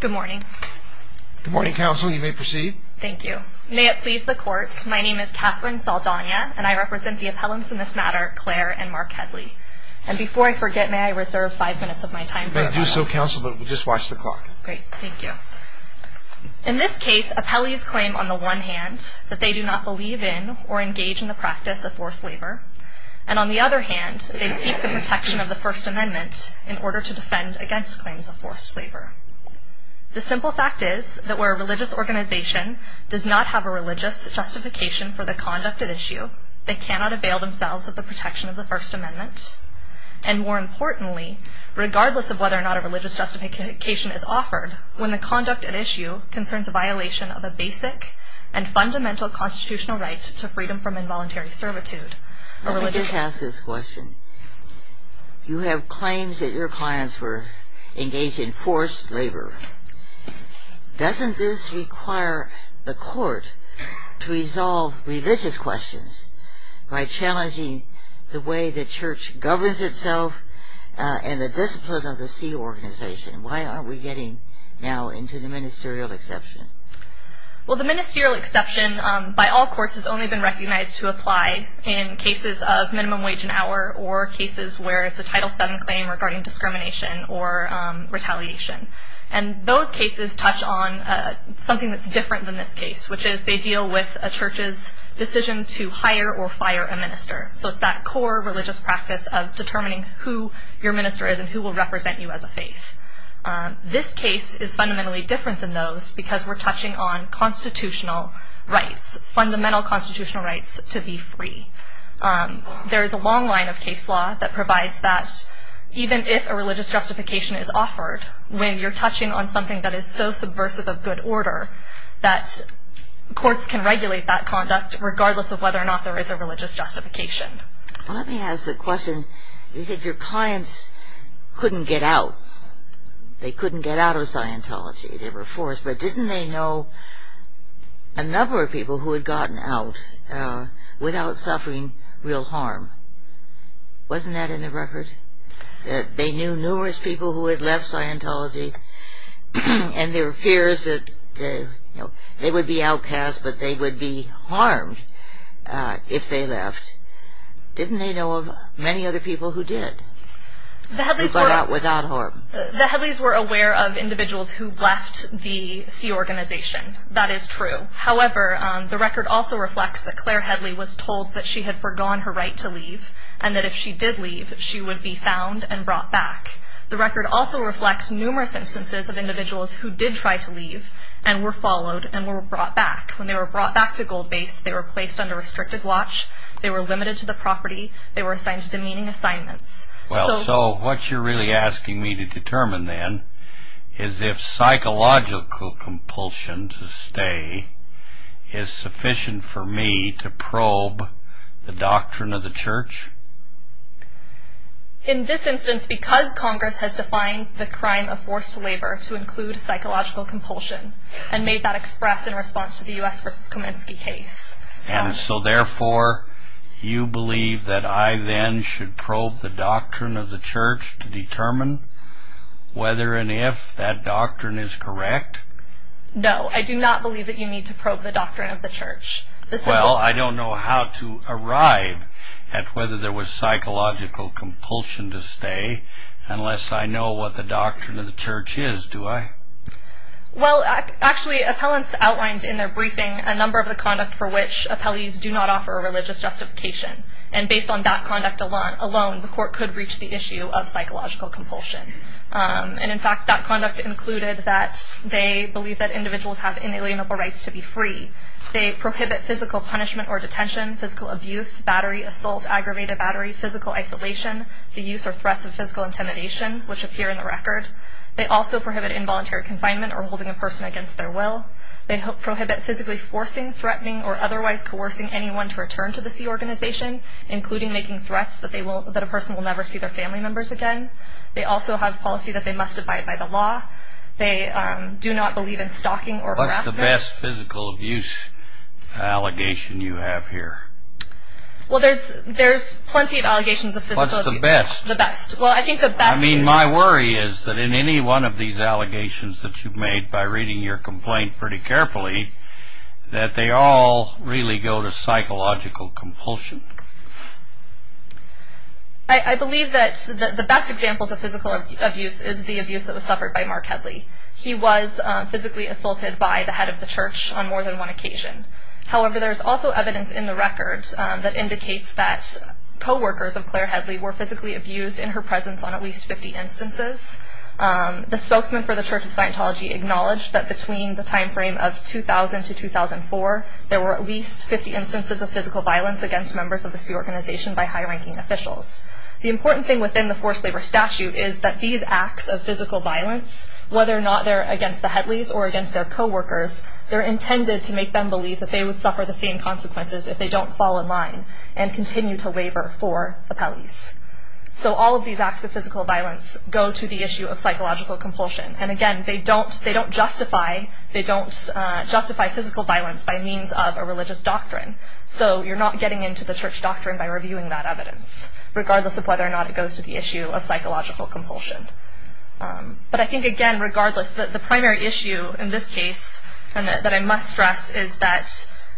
Good morning. Good morning, counsel. You may proceed. Thank you. May it please the court, my name is Katherine Saldana, and I represent the appellants in this matter, Claire and Mark Headley. And before I forget, may I reserve five minutes of my time? You may do so, counsel, but we'll just watch the clock. Great, thank you. In this case, appellees claim on the one hand that they do not believe in or engage in the practice of forced labor, and on the other hand, they seek the protection of the First Amendment in order to defend against claims of forced labor. The simple fact is that where a religious organization does not have a religious justification for the conduct at issue, they cannot avail themselves of the protection of the First Amendment. And more importantly, regardless of whether or not a religious justification is offered, when the conduct at issue concerns a violation of a basic and fundamental constitutional right to freedom from involuntary servitude. Let me just ask this question. You have claims that your clients were engaged in forced labor. Doesn't this require the court to resolve religious questions by challenging the way the church governs itself and the discipline of the C organization? Why aren't we getting now into the ministerial exception? Well, the ministerial exception by all courts has only been recognized to apply in cases of minimum wage and hour or cases where it's a Title VII claim regarding discrimination or retaliation. And those cases touch on something that's different than this case, which is they deal with a church's decision to hire or fire a minister. So it's that core religious practice of determining who your minister is and who will represent you as a faith. This case is fundamentally different than those because we're touching on constitutional rights, fundamental constitutional rights to be free. There is a long line of case law that provides that even if a religious justification is offered, when you're touching on something that is so subversive of good order, that courts can regulate that conduct regardless of whether or not there is a religious justification. Let me ask the question. You said your clients couldn't get out. They couldn't get out of Scientology. They were forced. But didn't they know a number of people who had gotten out without suffering real harm? Wasn't that in the record? They knew numerous people who had left Scientology and their fears that they would be outcasts but they would be harmed if they left. Didn't they know of many other people who did without harm? The Headleys were aware of individuals who left the C organization. That is true. However, the record also reflects that Claire Headley was told that she had forgone her right to leave and that if she did leave, she would be found and brought back. The record also reflects numerous instances of individuals who did try to leave and were followed and were brought back. When they were brought back to Gold Base, they were placed under restricted watch. They were limited to the property. They were assigned demeaning assignments. So what you're really asking me to determine then is if psychological compulsion to stay is sufficient for me to probe the doctrine of the Church? In this instance, because Congress has defined the crime of forced labor to include psychological compulsion and made that express in response to the U.S. v. Kominsky case. And so therefore, you believe that I then should probe the doctrine of the Church to determine whether and if that doctrine is correct? No, I do not believe that you need to probe the doctrine of the Church. Well, I don't know how to arrive at whether there was psychological compulsion to stay unless I know what the doctrine of the Church is, do I? Well, actually, appellants outlined in their briefing a number of the conduct for which appellees do not offer a religious justification. And based on that conduct alone, the court could reach the issue of psychological compulsion. And in fact, that conduct included that they believe that individuals have inalienable rights to be free. They prohibit physical punishment or detention, physical abuse, battery assault, aggravated battery, physical isolation, the use or threats of physical intimidation, which appear in the record. They also prohibit involuntary confinement or holding a person against their will. They prohibit physically forcing, threatening, or otherwise coercing anyone to return to the C organization, including making threats that a person will never see their family members again. They also have policy that they must abide by the law. They do not believe in stalking or harassment. What's the best physical abuse allegation you have here? Well, there's plenty of allegations of physical abuse. What's the best? The best. Well, I think the best is... I mean, my worry is that in any one of these allegations that you've made, by reading your complaint pretty carefully, that they all really go to psychological compulsion. I believe that the best examples of physical abuse is the abuse that was suffered by Mark Hedley. He was physically assaulted by the head of the church on more than one occasion. However, there's also evidence in the record that indicates that co-workers of Claire Hedley were physically abused in her presence on at least 50 instances. The spokesman for the Church of Scientology acknowledged that between the timeframe of 2000 to 2004, there were at least 50 instances of physical violence against members of the C organization by high-ranking officials. The important thing within the forced labor statute is that these acts of physical violence, whether or not they're against the Hedleys or against their co-workers, they're intended to make them believe that they would suffer the same consequences if they don't fall in line and continue to waiver for appellees. So all of these acts of physical violence go to the issue of psychological compulsion. And again, they don't justify physical violence by means of a religious doctrine. So you're not getting into the church doctrine by reviewing that evidence, regardless of whether or not it goes to the issue of psychological compulsion. But I think, again, regardless, the primary issue in this case that I must stress is that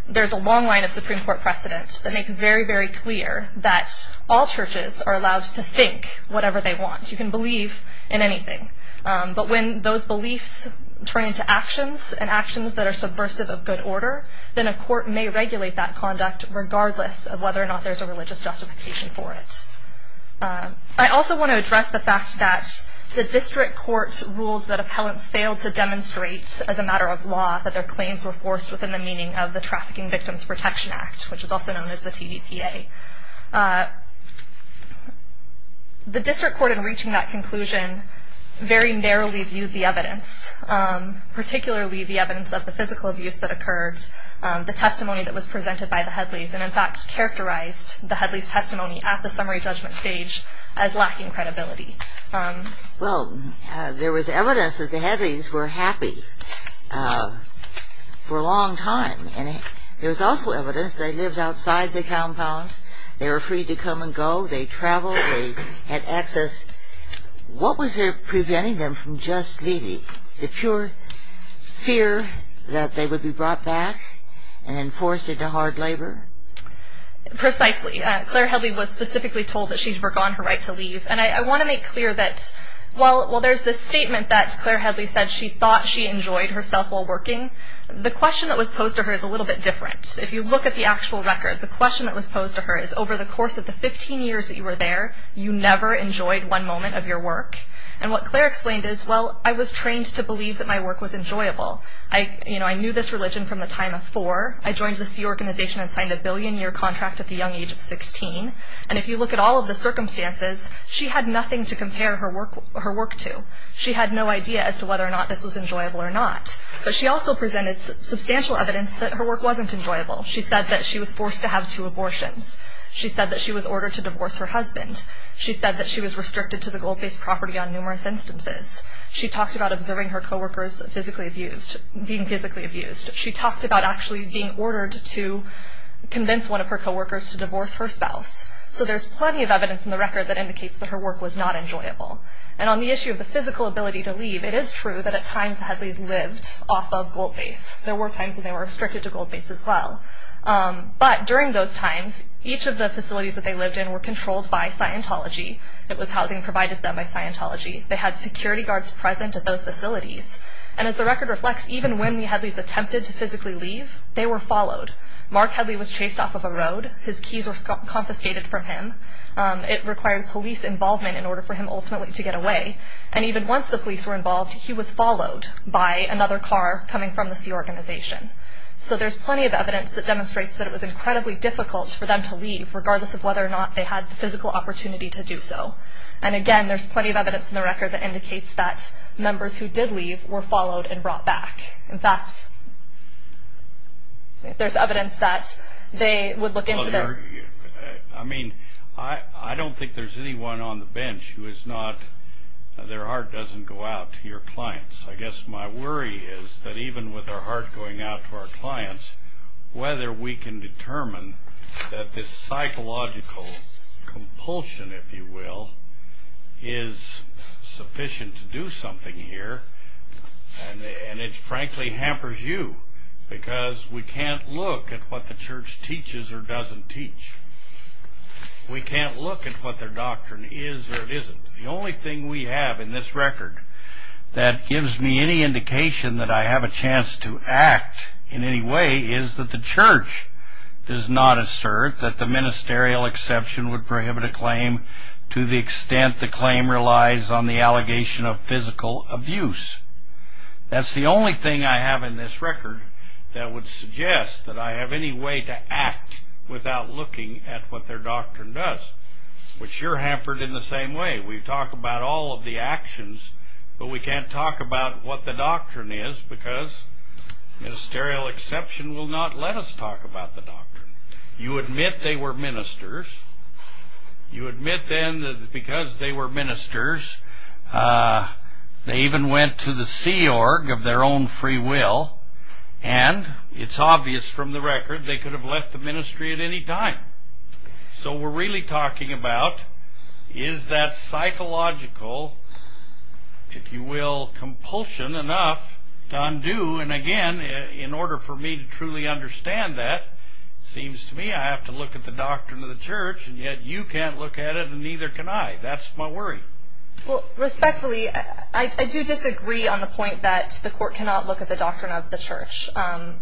there's a long line of Supreme Court precedent that makes very, very clear that all churches are allowed to think whatever they want. You can believe in anything. But when those beliefs turn into actions, and actions that are subversive of good order, then a court may regulate that conduct regardless of whether or not there's a religious justification for it. I also want to address the fact that the district court rules that appellants failed to demonstrate as a matter of law that their claims were forced within the meaning of the Trafficking Victims Protection Act, which is also known as the TVPA. The district court, in reaching that conclusion, very narrowly viewed the evidence, particularly the evidence of the physical abuse that occurred, the testimony that was presented by the Headleys, and in fact characterized the Headleys' testimony at the summary judgment stage as lacking credibility. Well, there was evidence that the Headleys were happy for a long time, and there was also evidence that they lived outside the compounds, they were free to come and go, they traveled, they had access. What was there preventing them from just leaving? The pure fear that they would be brought back and forced into hard labor? Precisely. Claire Headley was specifically told that she had forgone her right to leave. And I want to make clear that while there's this statement that Claire Headley said she thought she enjoyed herself while working, the question that was posed to her is a little bit different. If you look at the actual record, the question that was posed to her is, over the course of the 15 years that you were there, you never enjoyed one moment of your work? And what Claire explained is, well, I was trained to believe that my work was enjoyable. I knew this religion from the time of four. I joined the SEA organization and signed a billion-year contract at the young age of 16. And if you look at all of the circumstances, she had nothing to compare her work to. She had no idea as to whether or not this was enjoyable or not. But she also presented substantial evidence that her work wasn't enjoyable. She said that she was forced to have two abortions. She said that she was ordered to divorce her husband. She said that she was restricted to the gold-based property on numerous instances. She talked about observing her coworkers being physically abused. She talked about actually being ordered to convince one of her coworkers to divorce her spouse. So there's plenty of evidence in the record that indicates that her work was not enjoyable. And on the issue of the physical ability to leave, it is true that at times the Headleys lived off of gold base. There were times when they were restricted to gold base as well. But during those times, each of the facilities that they lived in were controlled by Scientology. It was housing provided to them by Scientology. They had security guards present at those facilities. And as the record reflects, even when the Headleys attempted to physically leave, they were followed. Mark Headley was chased off of a road. His keys were confiscated from him. It required police involvement in order for him ultimately to get away. And even once the police were involved, he was followed by another car coming from the C organization. So there's plenty of evidence that demonstrates that it was incredibly difficult for them to leave, regardless of whether or not they had the physical opportunity to do so. And again, there's plenty of evidence in the record that indicates that members who did leave were followed and brought back. In fact, there's evidence that they would look into their... I mean, I don't think there's anyone on the bench who is not... their heart doesn't go out to your clients. I guess my worry is that even with our heart going out to our clients, whether we can determine that this psychological compulsion, if you will, is sufficient to do something here. And it frankly hampers you. Because we can't look at what the church teaches or doesn't teach. We can't look at what their doctrine is or isn't. The only thing we have in this record that gives me any indication that I have a chance to act in any way is that the church does not assert that the ministerial exception would prohibit a claim to the extent the claim relies on the allegation of physical abuse. That's the only thing I have in this record that would suggest that I have any way to act without looking at what their doctrine does. Which you're hampered in the same way. We talk about all of the actions, but we can't talk about what the doctrine is because ministerial exception will not let us talk about the doctrine. You admit they were ministers. You admit then that because they were ministers, they even went to the Sea Org of their own free will, and it's obvious from the record they could have left the ministry at any time. So we're really talking about is that psychological, if you will, compulsion enough to undo? And again, in order for me to truly understand that, it seems to me I have to look at the doctrine of the church, and yet you can't look at it and neither can I. That's my worry. Respectfully, I do disagree on the point that the court cannot look at the doctrine of the church.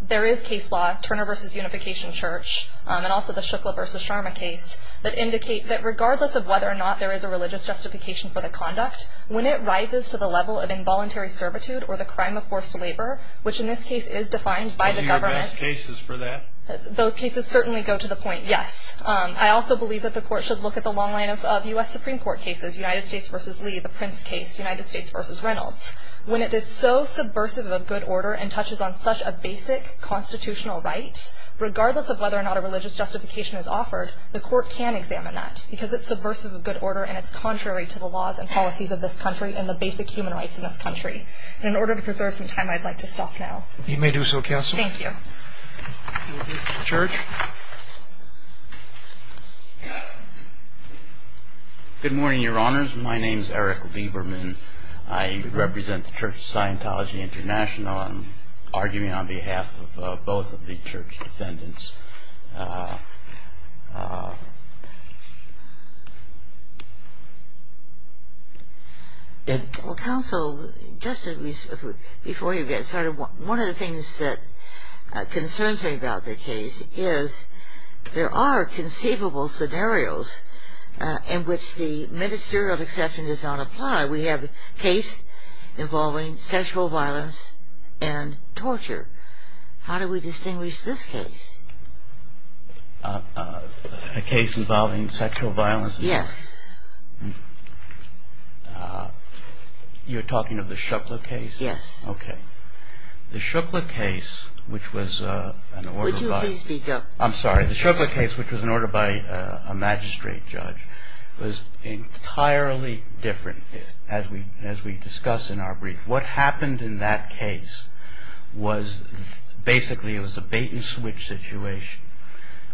There is case law, Turner v. Unification Church, and also the Shukla v. Sharma case, that indicate that regardless of whether or not there is a religious justification for the conduct, when it rises to the level of involuntary servitude or the crime of forced labor, which in this case is defined by the government. Are you against cases for that? Those cases certainly go to the point, yes. I also believe that the court should look at the long line of U.S. Supreme Court cases, United States v. Lee, the Prince case, United States v. Reynolds. When it is so subversive of good order and touches on such a basic constitutional right, regardless of whether or not a religious justification is offered, the court can examine that because it's subversive of good order and it's contrary to the laws and policies of this country and the basic human rights in this country. And in order to preserve some time, I'd like to stop now. You may do so, Counsel. Thank you. You will be at the church. Good morning, Your Honors. My name is Eric Lieberman. I represent the Church of Scientology International. I'm arguing on behalf of both of the church defendants. Counsel, just before you get started, one of the things that concerns me about the case is there are conceivable scenarios in which the ministerial exception does not apply. We have a case involving sexual violence and torture. How do we distinguish this case? A case involving sexual violence? Yes. You're talking of the Shukla case? Yes. Okay. The Shukla case, which was an order by a magistrate judge, was entirely different, as we discuss in our brief. What happened in that case was basically it was a bait-and-switch situation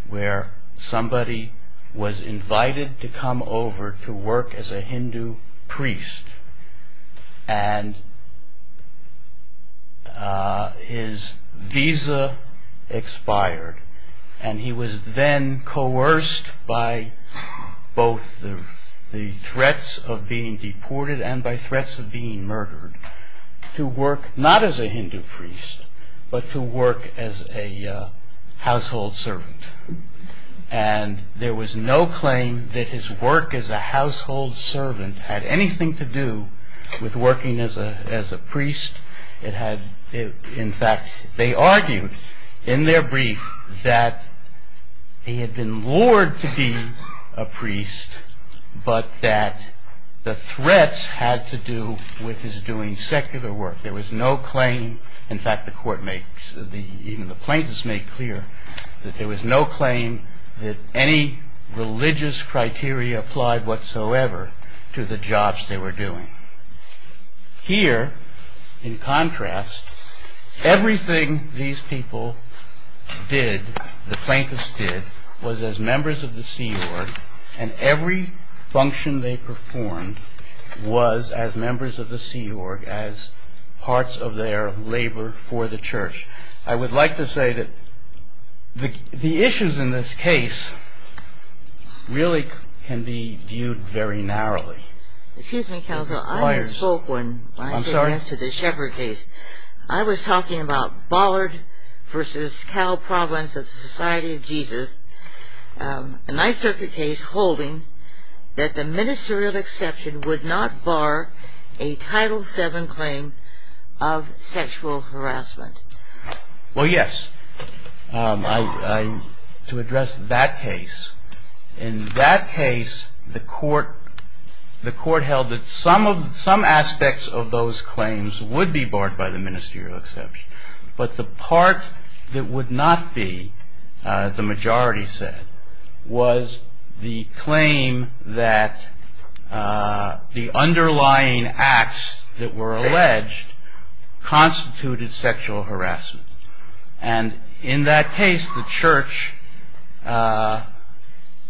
where somebody was invited to come over to work as a Hindu priest and his visa expired. And he was then coerced by both the threats of being deported and by threats of being murdered to work not as a Hindu priest, but to work as a household servant. And there was no claim that his work as a household servant had anything to do with working as a priest. In fact, they argued in their brief that he had been lured to be a priest, but that the threats had to do with his doing secular work. In fact, even the plaintiffs made clear that there was no claim that any religious criteria applied whatsoever to the jobs they were doing. Here, in contrast, everything these people did, the plaintiffs did, was as members of the C.E.O.R.G. And every function they performed was as members of the C.E.O.R.G., as parts of their labor for the Church. I would like to say that the issues in this case really can be viewed very narrowly. Excuse me, Counselor. I misspoke when I said yes to the Shepherd case. I was talking about Bollard v. Cal Province of the Society of Jesus, a Ninth Circuit case holding that the ministerial exception would not bar a Title VII claim of sexual harassment. Well, yes. To address that case, in that case the Court held that some aspects of those claims would be barred by the ministerial exception, but the part that would not be, the majority said, was the claim that the underlying acts that were alleged constituted sexual harassment. And in that case, the Church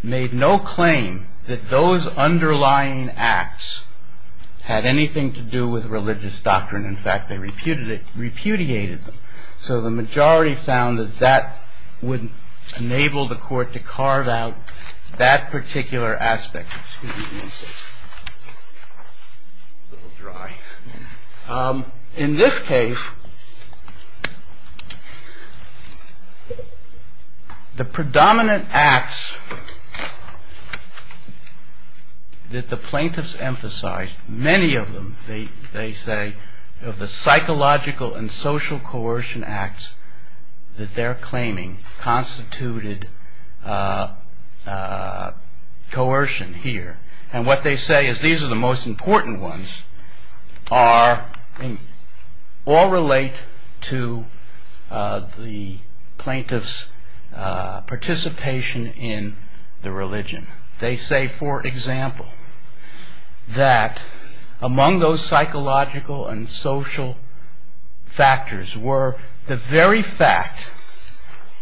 made no claim that those underlying acts had anything to do with religious doctrine. In fact, they repudiated them. So the majority found that that would enable the Court to carve out that particular aspect. Excuse me. In this case, the predominant acts that the plaintiffs emphasized, many of them, they say, of the psychological and social coercion acts that they're claiming constituted coercion here. And what they say is these are the most important ones. All relate to the plaintiff's participation in the religion. They say, for example, that among those psychological and social factors were the very fact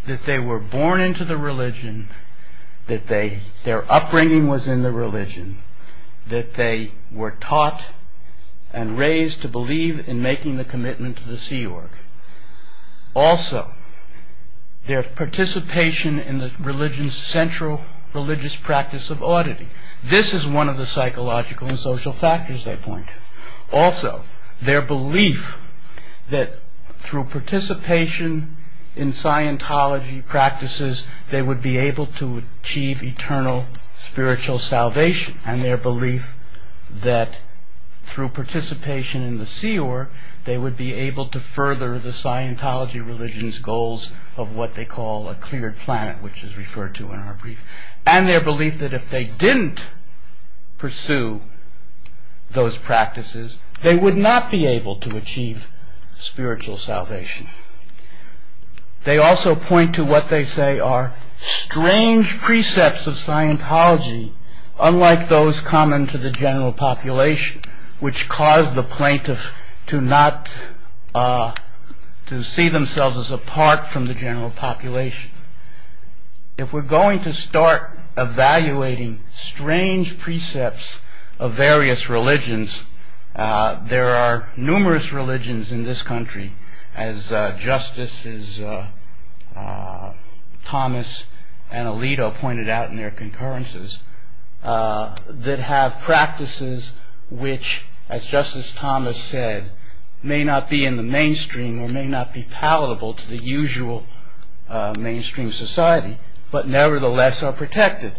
that they were born into the religion, that their upbringing was in the religion, that they were taught and raised to believe in making the commitment to the Sea Org. Also, their participation in the central religious practice of oddity. This is one of the psychological and social factors they point. Also, their belief that through participation in Scientology practices they would be able to achieve eternal spiritual salvation. And their belief that through participation in the Sea Org they would be able to further the Scientology religion's goals of what they call a cleared planet, which is referred to in our brief. And their belief that if they didn't pursue those practices they would not be able to achieve spiritual salvation. They also point to what they say are strange precepts of Scientology unlike those common to the general population which cause the plaintiff to see themselves as apart from the general population. If we're going to start evaluating strange precepts of various religions there are numerous religions in this country as Justices Thomas and Alito pointed out in their concurrences that have practices which as Justice Thomas said may not be in the mainstream or may not be palatable to the usual mainstream society but nevertheless are protected.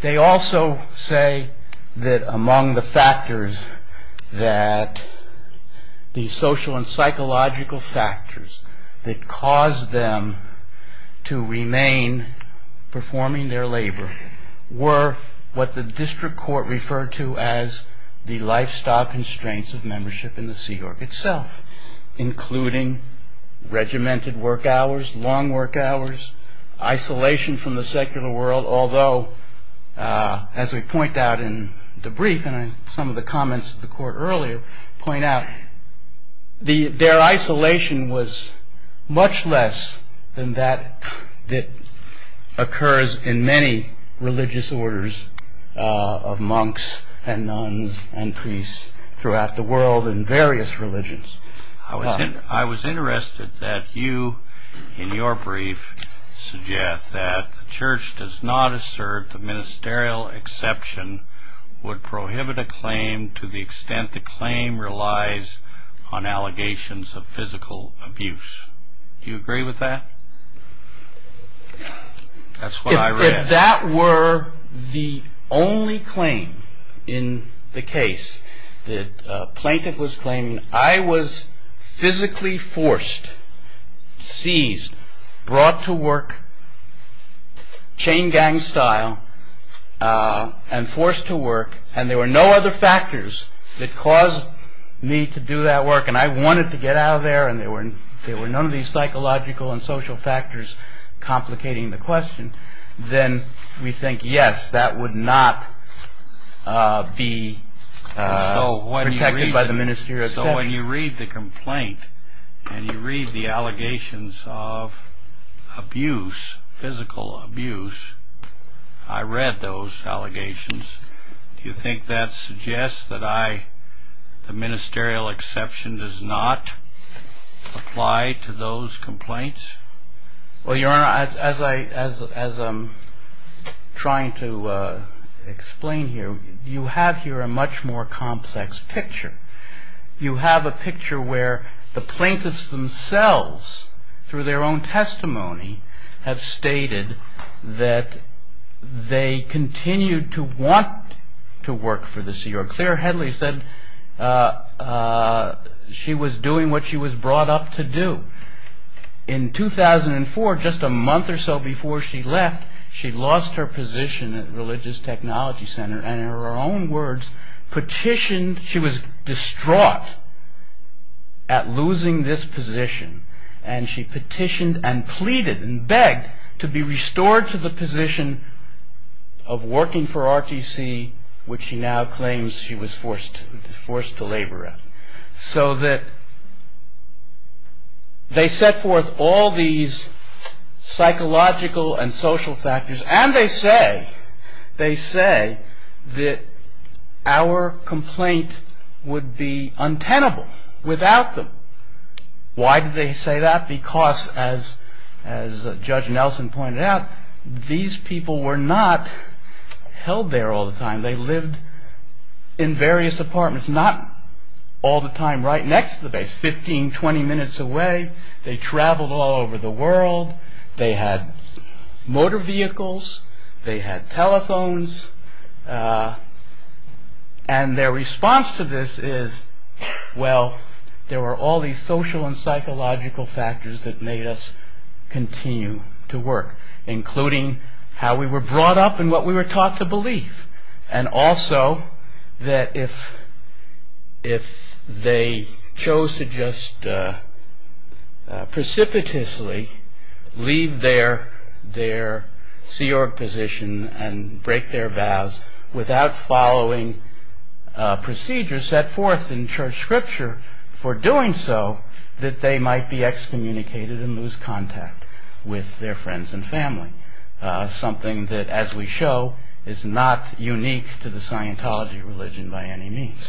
They also say that among the factors that the social and psychological factors that cause them to remain performing their labor were what the District Court referred to as the lifestyle constraints of membership in the Sea Org itself including regimented work hours, long work hours isolation from the secular world although as we point out in the brief and some of the comments of the Court earlier point out their isolation was much less than that that occurs in many religious orders of monks and nuns and priests throughout the world in various religions. I was interested that you in your brief suggest that the Church does not assert the ministerial exception would prohibit a claim to the extent the claim relies on allegations of physical abuse. Do you agree with that? That's what I read. If that were the only claim in the case that a plaintiff was claiming I was physically forced, seized, brought to work chain gang style and forced to work and there were no other factors that caused me to do that work and I wanted to get out of there and there were none of these psychological and social factors complicating the question then we think yes, that would not be protected by the ministerial exception. So when you read the complaint and you read the allegations of abuse physical abuse I read those allegations do you think that suggests that I the ministerial exception does not apply to those complaints? Well, Your Honor, as I'm trying to explain here you have here a much more complex picture. You have a picture where the plaintiffs themselves through their own testimony have stated that they continued to want to work for the C.R.O.C. Claire Headley said she was doing what she was brought up to do. In 2004, just a month or so before she left she lost her position at Religious Technology Center and in her own words petitioned, she was distraught at losing this position and she petitioned and pleaded and begged to be restored to the position of working for R.T.C. which she now claims she was forced to labor at. So that they set forth all these psychological and social factors and they say they say that our complaint would be untenable without them. Why did they say that? Because as Judge Nelson pointed out these people were not held there all the time. They lived in various apartments not all the time right next to the base 15, 20 minutes away. They traveled all over the world. They had motor vehicles. They had telephones. And their response to this is well there were all these social and psychological factors that made us continue to work including how we were brought up and what we were taught to believe and also that if if they chose to just precipitously leave their C-Org position and break their vows without following procedures set forth in church scripture for doing so that they might be excommunicated and lose contact with their friends and family. Something that as we show is not unique to the Scientology religion by any means.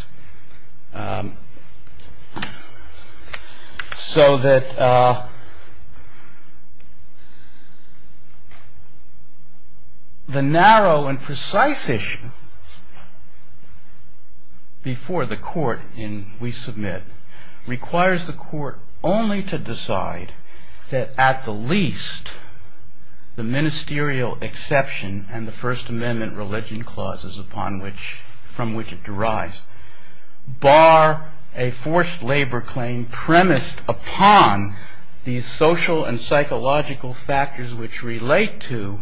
So that the narrow and precise issue before the court in We Submit requires the court only to decide that at the least the ministerial exception and the First Amendment religion clauses upon which from which it derives bar a forced labor claim premised upon these social and psychological factors which relate to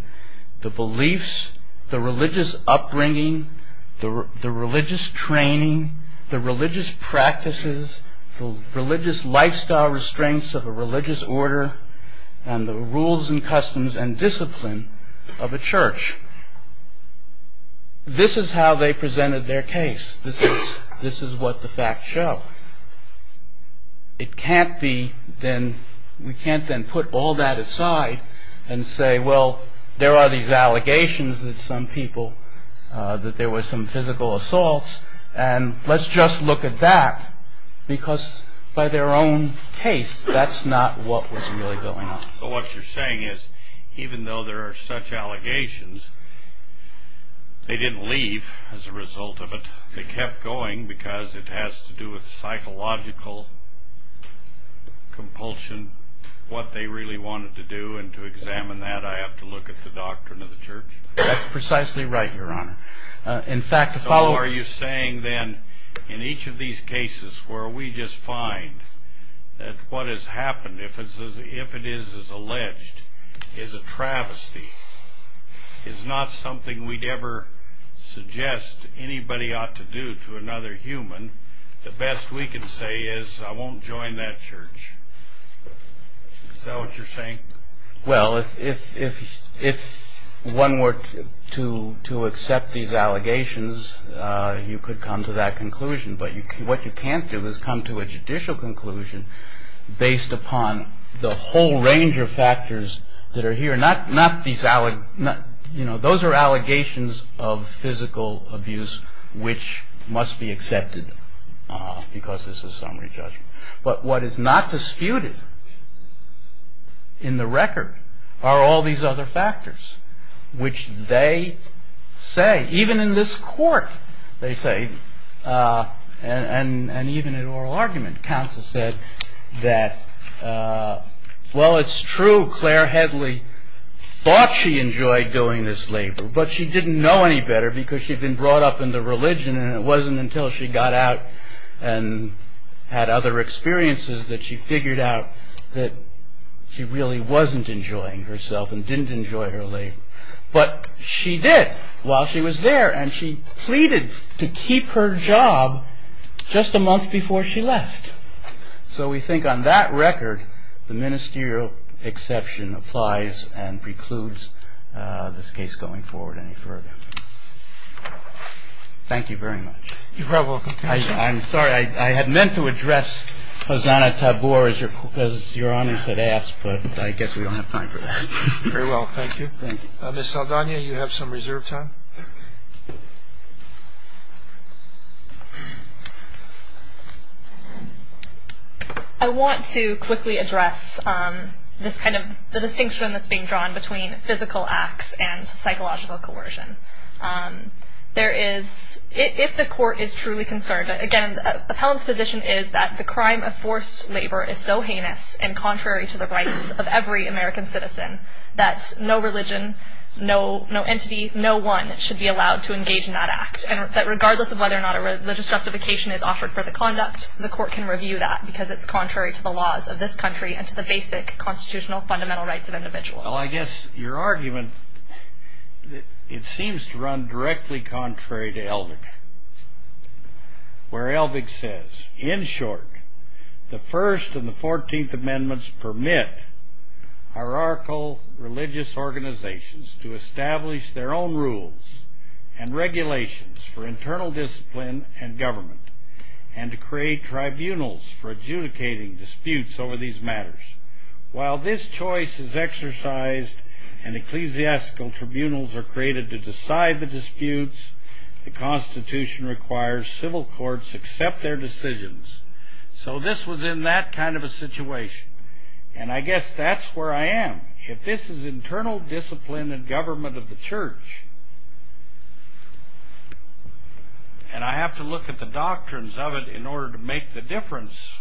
the beliefs the religious upbringing the religious training the religious practices the religious lifestyle restraints of a religious order and the rules and customs and discipline of a church. This is how they presented their case. This is what the facts show. It can't be then we can't then put all that aside and say, well, there are these allegations that some people that there were some physical assaults and let's just look at that because by their own case that's not what was really going on. So what you're saying is even though there are such allegations they didn't leave as a result of it. They kept going because it has to do with psychological compulsion what they really wanted to do and to examine that I have to look at the doctrine of the church? That's precisely right, Your Honor. In fact, the following... So are you saying then in each of these cases where we just find that what has happened if it is as alleged is a travesty is not something we'd ever suggest anybody ought to do to another human the best we can say is I won't join that church. Is that what you're saying? Well, if one were to accept these allegations you could come to that conclusion but what you can't do is come to a judicial conclusion based upon the whole range of factors that are here not these... those are allegations of physical abuse which must be accepted because this is summary judgment. But what is not disputed in the record are all these other factors which they say even in this court they say and even in oral argument counsel said that well, it's true Claire Headley thought she enjoyed doing this labor but she didn't know any better because she'd been brought up in the religion and it wasn't until she got out and had other experiences that she figured out that she really wasn't enjoying herself and didn't enjoy her labor but she did while she was there and she pleaded to keep her job just a month before she left so we think on that record the ministerial exception applies and precludes this case going forward any further. Thank you very much. You're probably welcome. I'm sorry, I had meant to address Khazanah Taboor as Your Honor could ask but I guess we don't have time for that. Very well, thank you. Ms. Saldana, you have some reserve time? I want to quickly address this kind of... the distinction that's being drawn between physical acts and psychological coercion. There is... if the court is truly concerned again, the appellant's position is that the crime of forced labor is so heinous and contrary to the rights of every American citizen that no religion no entity no one should be allowed to engage in that act and that regardless of whether or not a religious justification is offered for the conduct the court can review that because it's contrary to the laws of this country and to the basic constitutional fundamental rights of individuals. Well, I guess your argument it seems to run directly contrary to Elvig where Elvig says in short the First and the Fourteenth Amendments permit hierarchical religious organizations to establish their own rules and regulations for internal discipline and government and to create tribunals for adjudicating disputes over these matters. While this choice is exercised and ecclesiastical tribunals are created to decide the disputes the Constitution requires civil courts accept their decisions. So this was in that kind of a situation and I guess that's where I am if this is internal discipline and government of the church and I have to look at the doctrines of it in order to make the difference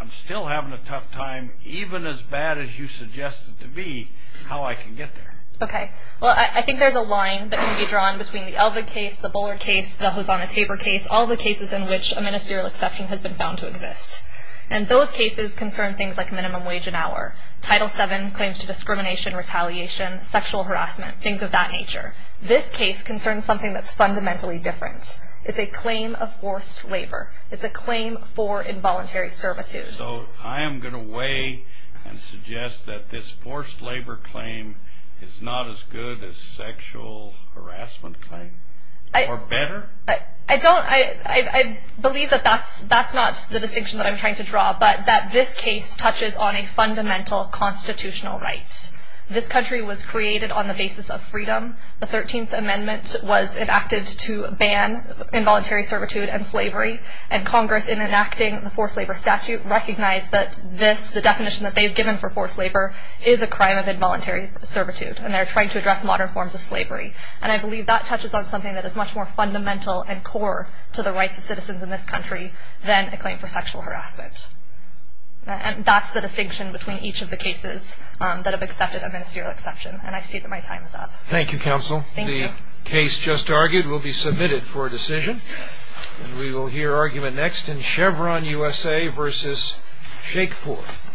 I'm still having a tough time even as bad as you suggested to be how I can get there. Okay. Well, I think there's a line that can be drawn between the Elvig case the Bullard case the Hosanna-Tabor case all the cases in which a ministerial exception has been found to exist. And those cases concern things like minimum wage an hour Title VII claims to discrimination retaliation sexual harassment things of that nature. This case concerns something that's fundamentally different. It's a claim of forced labor. It's a claim for involuntary servitude. So I am going to weigh and suggest that this forced labor claim is not as good as sexual harassment claim or better? I don't... I believe that that's that's not the distinction that I'm trying to draw but that this case touches on a fundamental constitutional right. This country was created on the basis of freedom. The 13th Amendment was enacted to ban involuntary servitude and slavery and Congress in enacting the forced labor statute recognized that this the definition that they've given for forced labor is a crime of involuntary servitude and they're trying to address modern forms of slavery. And I believe that touches on something that is much more fundamental and core to the rights of citizens in this country than a claim for sexual harassment. And that's the distinction between each of the cases that have accepted a ministerial exception and I see that my time is up. Thank you, Counsel. Thank you. The case just argued will be submitted for a decision. We will hear argument next in Chevron USA versus Shakeforth.